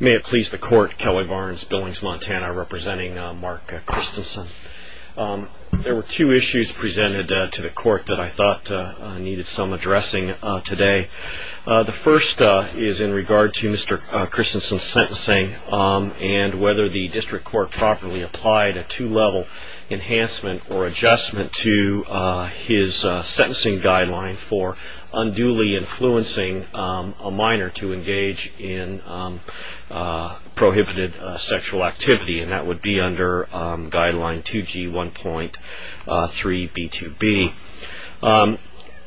May it please the court, Kelly Barnes, Billings, Montana, representing Mark Christensen. There were two issues presented to the court that I thought needed some addressing today. The first is in regard to Mr. Christensen's sentencing and whether the district court properly applied a two-level enhancement or adjustment to his sentencing guideline for unduly influencing a minor to engage in prohibited sexual activity, and that would be under guideline 2G1.3b2b.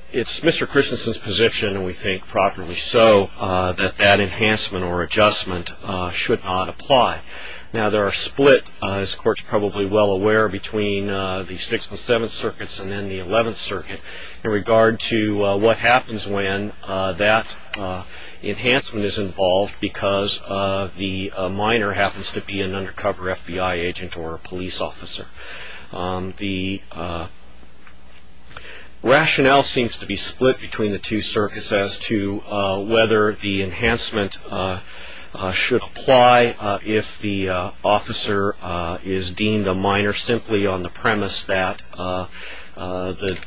It's Mr. Christensen's position, and we think properly so, that that enhancement or adjustment should not apply. Now there are split, as the court's probably well aware, between the enhancement is involved because the minor happens to be an undercover FBI agent or a police officer. The rationale seems to be split between the two circuits as to whether the enhancement should apply if the officer is deemed a minor simply on the premise that the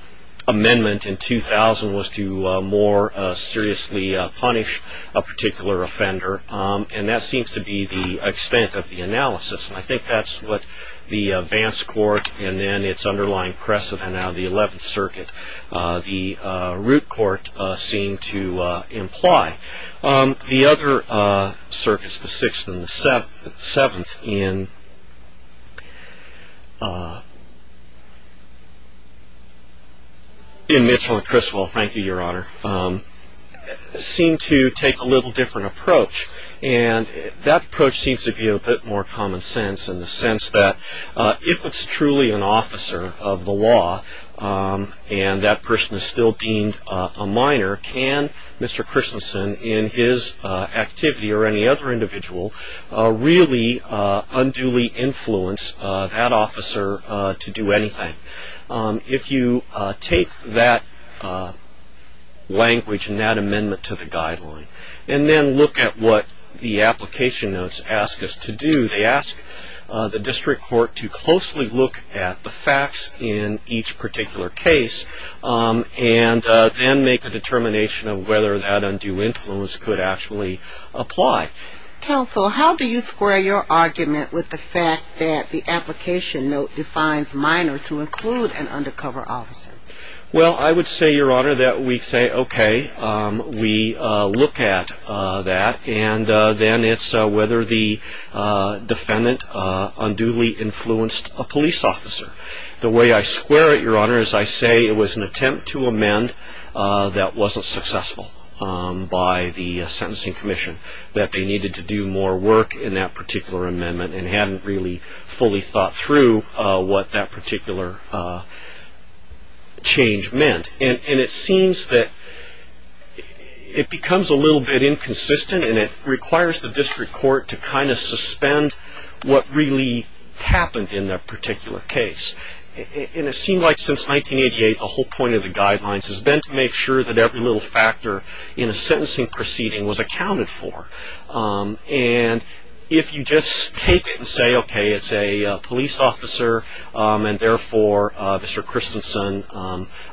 amendment in 2000 was to more seriously punish a particular offender, and that seems to be the extent of the analysis. And I think that's what the advance court and then its underlying precedent out of the 11th Circuit, the root court, seem to imply. The other circuits, the 6th and the 7th, in Midsomer Criswell, thank you, Your Honor, seem to take a little different approach, and that approach seems to be a bit more common sense in the sense that if it's truly an officer of the law and that person is still deemed a minor, can Mr. Christensen in his activity or any other individual really unduly influence that officer to do anything? If you take that language and that amendment to the guideline and then look at what the application notes ask us to do, they ask the district court to closely look at the facts in each particular case and then make a determination of whether that undue influence could actually apply. Counsel, how do you square your argument with the fact that the application note defines minor to include an undercover officer? Well, I would say, Your Honor, that we say, okay, we look at that, and then it's whether the defendant unduly influenced a police officer. The way I square it, Your Honor, is I say it was an attempt to amend that wasn't successful by the Sentencing Commission, that they needed to do more work in that particular amendment and hadn't really fully thought through what that particular change meant. And it seems that it becomes a little bit inconsistent, and it requires the district court to kind of suspend what really happened in that particular case. And it seemed like since 1988, the whole point of the guidelines has been to make sure that every little factor in a sentencing proceeding was accounted for. And if you just take it and say, okay, it's a police officer, and therefore Mr. Christensen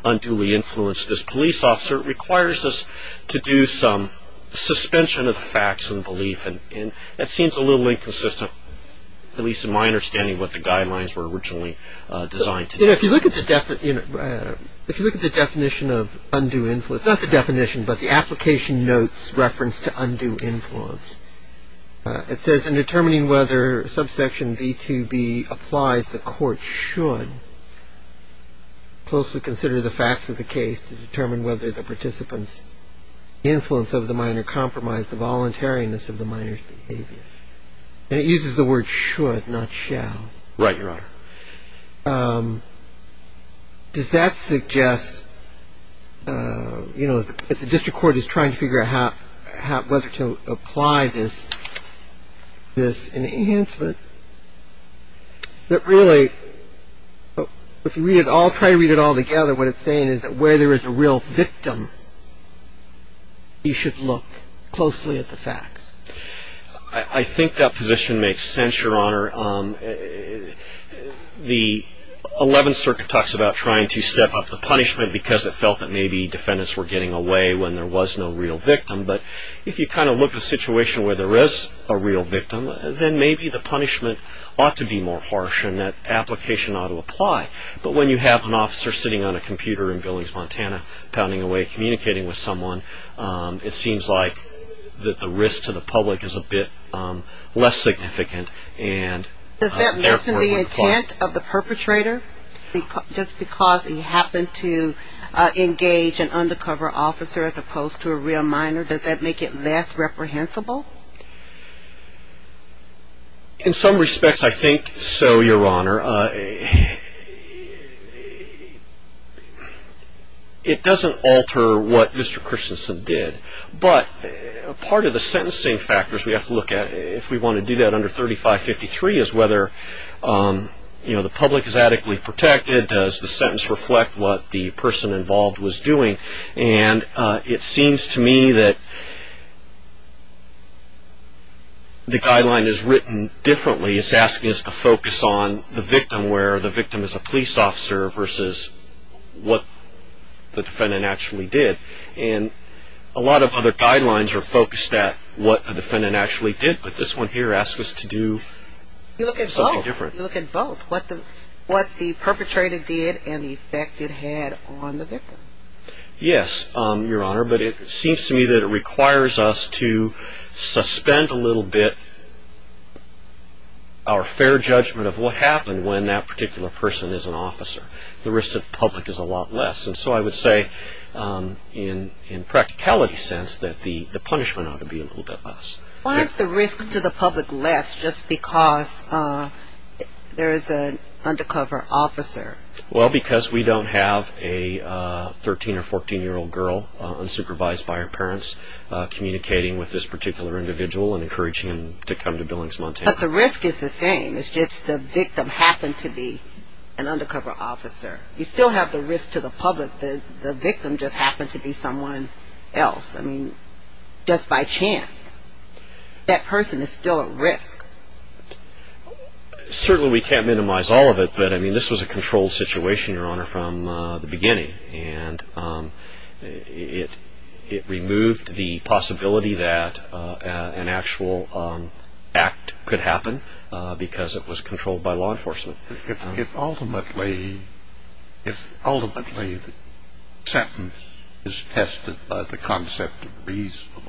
unduly influenced this police officer, it requires us to do some suspension of the facts and belief, and that seems a little inconsistent, at least in my understanding of what the guidelines were originally designed to do. If you look at the definition of undue influence, not the definition, but the application notes reference to undue influence, it says in determining whether subsection B2B applies, the court should closely consider the facts of the case to determine whether the participant's influence of the minor compromised the voluntariness of the minor's behavior. And it uses the word should, not shall. Right, Your Honor. Does that suggest, you know, as the district court is trying to figure out whether to apply this enhancement, that really if you read it all, try to read it all together, what it's saying is that where there is a real victim, I think that position makes sense, Your Honor. The Eleventh Circuit talks about trying to step up the punishment because it felt that maybe defendants were getting away when there was no real victim. But if you kind of look at a situation where there is a real victim, then maybe the punishment ought to be more harsh and that application ought to apply. But when you have an officer sitting on a computer in Billings, Montana, pounding away, communicating with someone, it seems like that the risk to the public is a bit less significant. Does that lessen the intent of the perpetrator? Just because he happened to engage an undercover officer as opposed to a real minor, does that make it less reprehensible? In some respects, I think so, Your Honor. Your Honor, it doesn't alter what Mr. Christensen did. But part of the sentencing factors we have to look at if we want to do that under 3553 is whether the public is adequately protected. Does the sentence reflect what the person involved was doing? And it seems to me that the guideline is written differently. It's asking us to focus on the victim where the victim is a police officer versus what the defendant actually did. And a lot of other guidelines are focused at what the defendant actually did. But this one here asks us to do something different. You look at both, what the perpetrator did and the effect it had on the victim. Yes, Your Honor, but it seems to me that it requires us to suspend a little bit our fair judgment of what happened when that particular person is an officer. The risk to the public is a lot less. And so I would say in a practicality sense that the punishment ought to be a little bit less. Why is the risk to the public less just because there is an undercover officer? Well, because we don't have a 13 or 14-year-old girl unsupervised by her parents communicating with this particular individual and encouraging him to come to Billings, Montana. But the risk is the same. It's just the victim happened to be an undercover officer. You still have the risk to the public that the victim just happened to be someone else. I mean, just by chance. That person is still at risk. Certainly we can't minimize all of it. But, I mean, this was a controlled situation, Your Honor, from the beginning. And it removed the possibility that an actual act could happen because it was controlled by law enforcement. If ultimately the sentence is tested by the concept of reasonableness,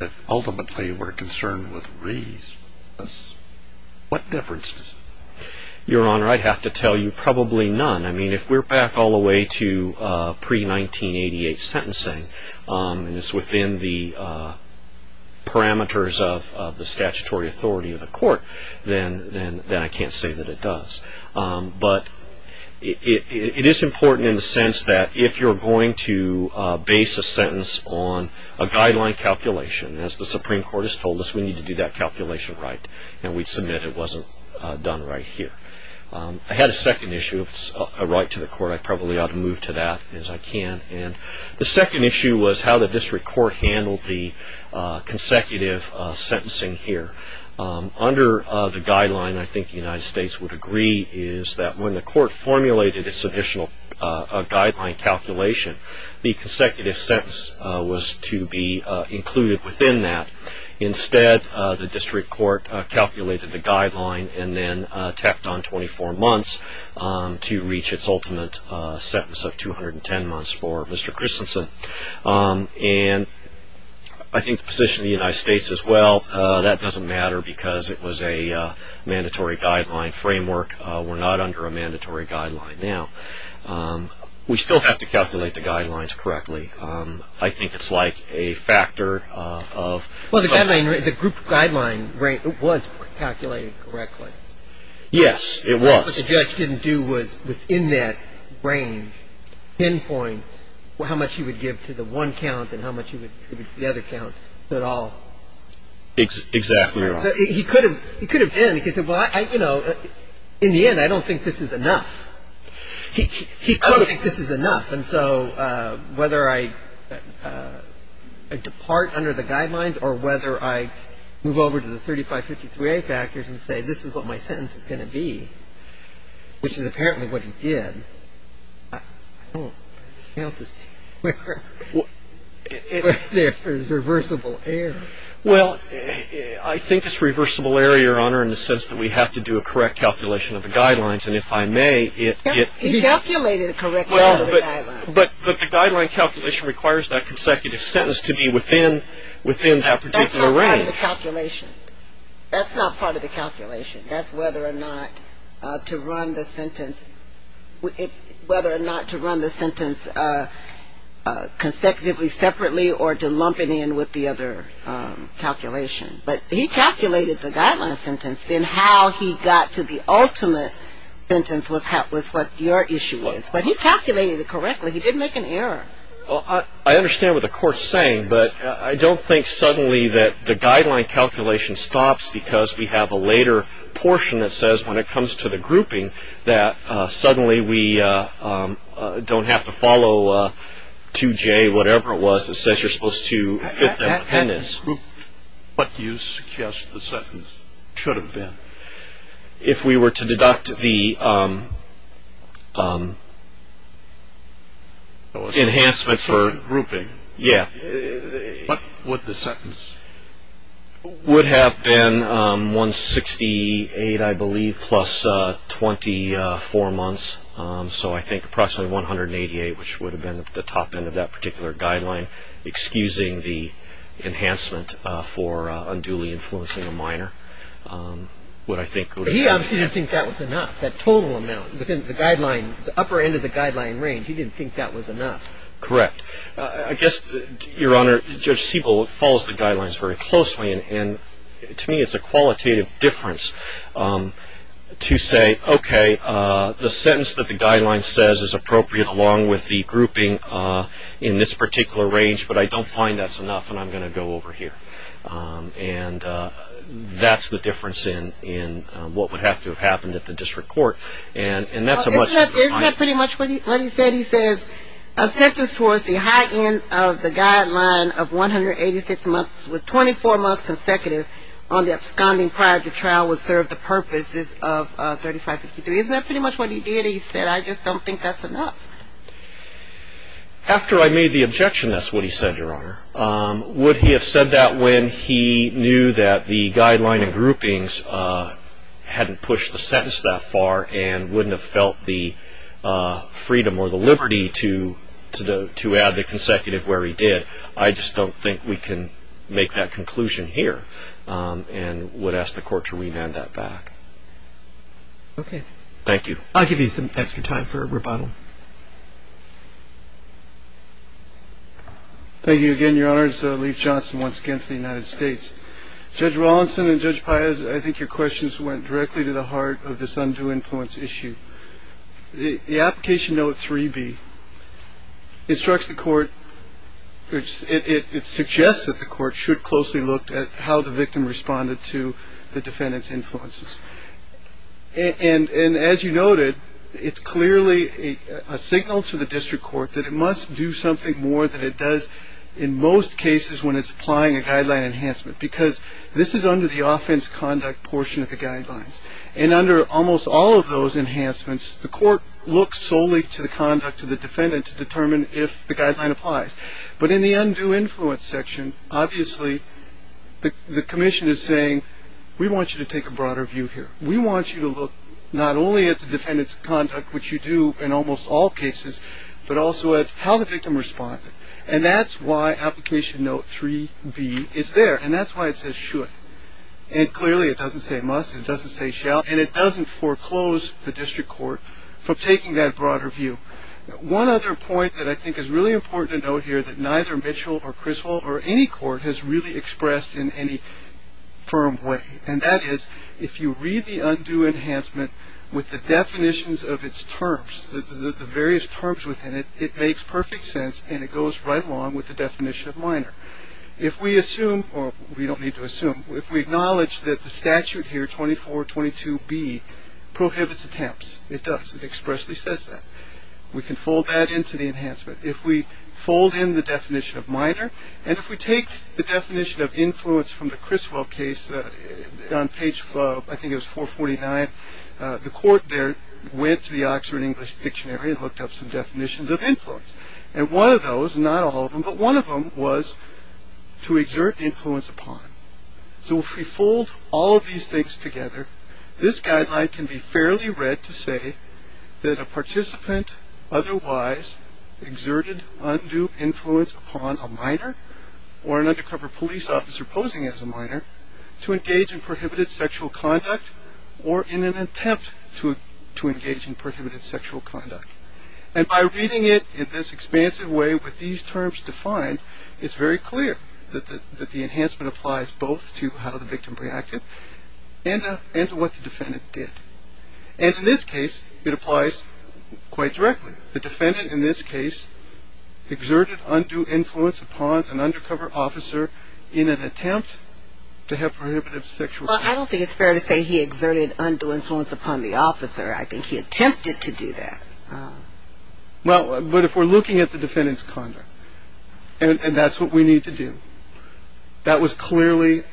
if ultimately we're concerned with reasonableness, what difference does it make? Your Honor, I'd have to tell you probably none. I mean, if we're back all the way to pre-1988 sentencing, and it's within the parameters of the statutory authority of the court, then I can't say that it does. But it is important in the sense that if you're going to base a sentence on a guideline calculation, as the Supreme Court has told us, we need to do that calculation right. And we'd submit it wasn't done right here. I had a second issue of a right to the court. I probably ought to move to that as I can. And the second issue was how the district court handled the consecutive sentencing here. Under the guideline, I think the United States would agree, is that when the court formulated its additional guideline calculation, the consecutive sentence was to be included within that. Instead, the district court calculated the guideline and then tacked on 24 months to reach its ultimate sentence of 210 months for Mr. Christensen. And I think the position of the United States as well, that doesn't matter because it was a mandatory guideline framework. We're not under a mandatory guideline now. We still have to calculate the guidelines correctly. I think it's like a factor of... Well, the group guideline was calculated correctly. Yes, it was. What the judge didn't do was, within that range, pinpoint how much he would give to the one count and how much he would give to the other count, so it all... Exactly right. He could have been. He could have said, well, you know, in the end, I don't think this is enough. He doesn't think this is enough. And so whether I depart under the guidelines or whether I move over to the 3553A factors and say this is what my sentence is going to be, which is apparently what he did, I don't know where there is reversible error. Well, I think it's reversible error, Your Honor, in the sense that we have to do a correct calculation of the guidelines, and if I may, it... He calculated a correct guideline. But the guideline calculation requires that consecutive sentence to be within that particular range. That's not part of the calculation. That's not part of the calculation. That's whether or not to run the sentence consecutively separately or to lump it in with the other calculation. But he calculated the guideline sentence. Then how he got to the ultimate sentence was what your issue is. But he calculated it correctly. He didn't make an error. Well, I understand what the court's saying, but I don't think suddenly that the guideline calculation stops because we have a later portion that says when it comes to the grouping that suddenly we don't have to follow 2J, whatever it was, that says you're supposed to fit the appendix. What do you suggest the sentence should have been? If we were to deduct the enhancement for... Grouping. Yeah. What would the sentence... Would have been 168, I believe, plus 24 months. So I think approximately 188, which would have been at the top end of that particular guideline, excusing the enhancement for unduly influencing a minor. He obviously didn't think that was enough, that total amount. Within the guideline, the upper end of the guideline range, he didn't think that was enough. Correct. I guess, Your Honor, Judge Siebel follows the guidelines very closely, and to me it's a qualitative difference to say, okay, the sentence that the guideline says is appropriate along with the grouping in this particular range, but I don't find that's enough, and I'm going to go over here. And that's the difference in what would have to have happened at the district court. Isn't that pretty much what he said? He says a sentence towards the high end of the guideline of 186 months with 24 months consecutive on the absconding prior to trial would serve the purposes of 3553. Isn't that pretty much what he did? He said, I just don't think that's enough. After I made the objection, that's what he said, Your Honor. Would he have said that when he knew that the guideline and groupings hadn't pushed the sentence that far and wouldn't have felt the freedom or the liberty to add the consecutive where he did? I just don't think we can make that conclusion here and would ask the court to remand that back. Okay. Thank you. I'll give you some extra time for rebuttal. Thank you again, Your Honor. It's Leif Johnson once again for the United States. Judge Rawlinson and Judge Paius, I think your questions went directly to the heart of this undue influence issue. The application note 3B instructs the court, it suggests that the court should closely look at how the victim responded to the defendant's influences. And as you noted, it's clearly a signal to the district court that it must do something more than it does in most cases when it's applying a guideline enhancement because this is under the offense conduct portion of the guidelines. And under almost all of those enhancements, the court looks solely to the conduct of the defendant to determine if the guideline applies. But in the undue influence section, obviously, the commission is saying, we want you to take a broader view here. We want you to look not only at the defendant's conduct, which you do in almost all cases, but also at how the victim responded. And that's why application note 3B is there. And that's why it says should. And clearly, it doesn't say must. It doesn't say shall. And it doesn't foreclose the district court from taking that broader view. One other point that I think is really important to note here that neither Mitchell or Criswell or any court has really expressed in any firm way. And that is, if you read the undue enhancement with the definitions of its terms, the various terms within it, it makes perfect sense and it goes right along with the definition of minor. If we assume, or we don't need to assume, if we acknowledge that the statute here, 2422B, prohibits attempts, it does. It expressly says that. We can fold that into the enhancement. If we fold in the definition of minor, and if we take the definition of influence from the Criswell case on page, I think it was 449, the court there went to the Oxford English Dictionary and looked up some definitions of influence. And one of those, not all of them, but one of them was to exert influence upon. So if we fold all of these things together, this guideline can be fairly read to say that a participant otherwise exerted undue influence upon a minor or an undercover police officer posing as a minor to engage in prohibited sexual conduct or in an attempt to engage in prohibited sexual conduct. And by reading it in this expansive way with these terms defined, it's very clear that the enhancement applies both to how the victim reacted and to what the defendant did. And in this case, it applies quite directly. The defendant in this case exerted undue influence upon an undercover officer in an attempt to have prohibited sexual conduct. I don't think it's fair to say he exerted undue influence upon the officer. I think he attempted to do that. Well, but if we're looking at the defendant's conduct, and that's what we need to do, that was clearly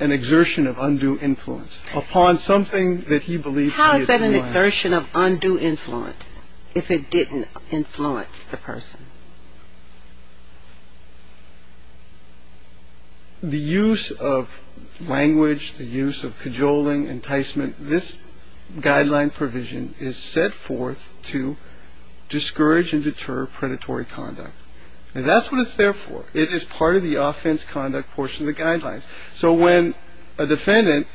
an exertion of undue influence upon something that he believed he had done wrong. How is that an exertion of undue influence if it didn't influence the person? The use of language, the use of cajoling, enticement, this guideline provision is set forth to discourage and deter predatory conduct. And that's what it's there for. It is part of the offense conduct portion of the guidelines. So when a defendant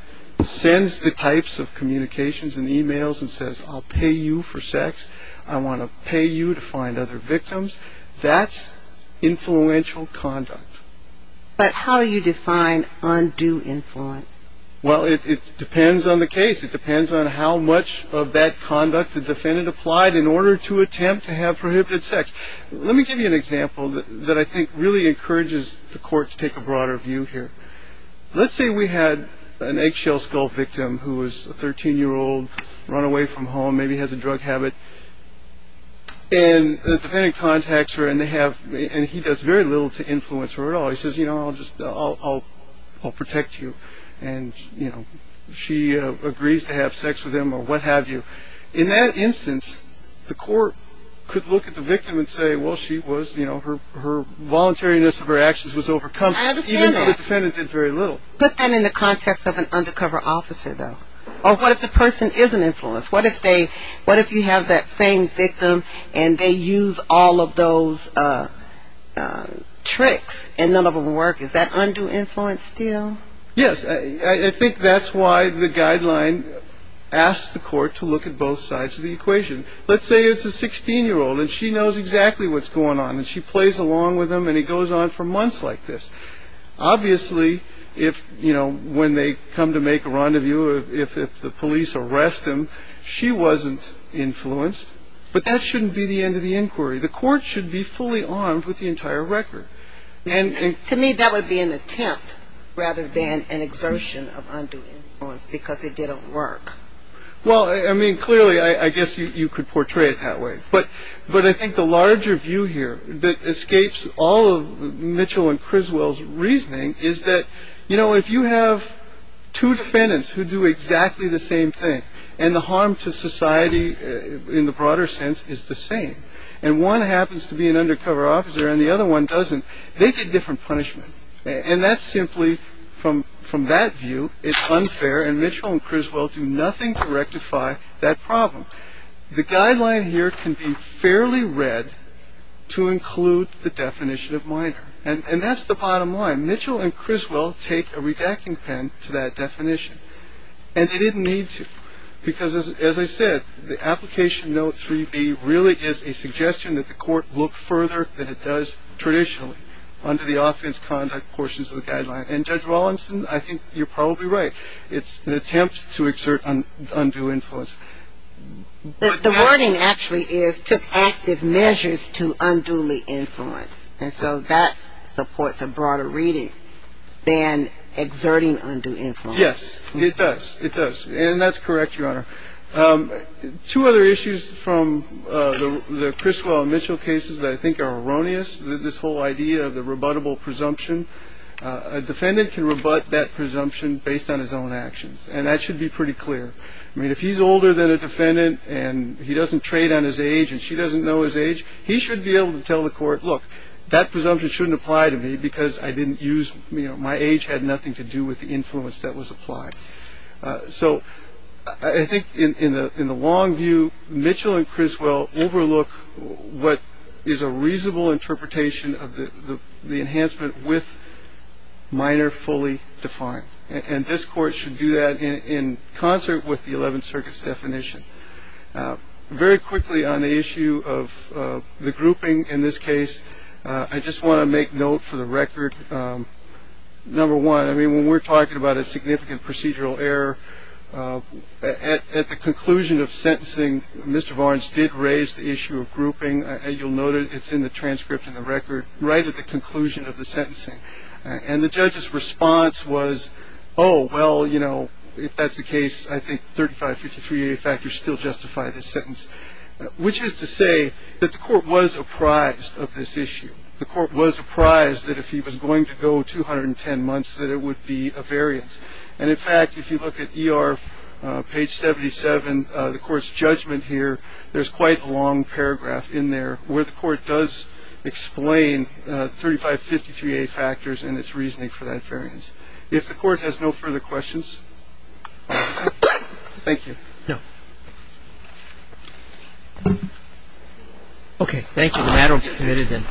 sends the types of communications and e-mails and says, I'll pay you for sex, I want to pay you to find other victims, that's influential conduct. But how do you define undue influence? Well, it depends on the case. It depends on how much of that conduct the defendant applied in order to attempt to have prohibited sex. Let me give you an example that I think really encourages the court to take a broader view here. Let's say we had an eggshell skull victim who was a 13-year-old runaway from home, maybe has a drug habit. And the defendant contacts her and he does very little to influence her at all. He says, you know, I'll protect you. And, you know, she agrees to have sex with him or what have you. In that instance, the court could look at the victim and say, well, she was, you know, her voluntariness of her actions was overcome. I understand that. Even though the defendant did very little. Put that in the context of an undercover officer, though. Or what if the person is an influence? What if you have that same victim and they use all of those tricks and none of them work? Is that undue influence still? Yes. I think that's why the guideline asks the court to look at both sides of the equation. Let's say it's a 16-year-old and she knows exactly what's going on. And she plays along with him and he goes on for months like this. Obviously, if, you know, when they come to make a rendezvous, if the police arrest him, she wasn't influenced. But that shouldn't be the end of the inquiry. The court should be fully armed with the entire record. To me, that would be an attempt rather than an exertion of undue influence because it didn't work. Well, I mean, clearly, I guess you could portray it that way. But but I think the larger view here that escapes all of Mitchell and Criswell's reasoning is that, you know, if you have two defendants who do exactly the same thing and the harm to society in the broader sense is the same and one happens to be an undercover officer and the other one doesn't, they get different punishment. And that's simply from from that view. It's unfair. And Mitchell and Criswell do nothing to rectify that problem. The guideline here can be fairly read to include the definition of minor. And that's the bottom line. Mitchell and Criswell take a redacting pen to that definition. And they didn't need to, because, as I said, the application note 3B really is a suggestion that the court look further than it does traditionally under the offense conduct portions of the guideline. And Judge Wallinson, I think you're probably right. It's an attempt to exert undue influence. The wording actually is took active measures to unduly influence. And so that supports a broader reading than exerting undue influence. Yes, it does. It does. And that's correct. Your Honor. Two other issues from the Criswell Mitchell cases that I think are erroneous. This whole idea of the rebuttable presumption, a defendant can rebut that presumption based on his own actions. And that should be pretty clear. I mean, if he's older than a defendant and he doesn't trade on his age and she doesn't know his age, he should be able to tell the court, look, that presumption shouldn't apply to me because I didn't use my age had nothing to do with the influence that was applied. So I think in the in the long view, Mitchell and Criswell overlook what is a reasonable interpretation of the enhancement with minor fully defined. And this court should do that in concert with the Eleventh Circuit's definition. Very quickly on the issue of the grouping in this case. I just want to make note for the record. Number one, I mean, when we're talking about a significant procedural error at the conclusion of sentencing, Mr. Barnes did raise the issue of grouping and you'll note it. It's in the transcript and the record right at the conclusion of the sentencing. And the judge's response was, oh, well, you know, if that's the case, I think thirty five fifty three factors still justify this sentence, which is to say that the court was apprised of this issue. The court was apprised that if he was going to go two hundred and ten months, that it would be a variance. And in fact, if you look at your page seventy seven, the court's judgment here, there's quite a long paragraph in there where the court does explain thirty five fifty three factors and its reasoning for that variance. If the court has no further questions. Thank you. No. OK, thank you. I hope to see you again.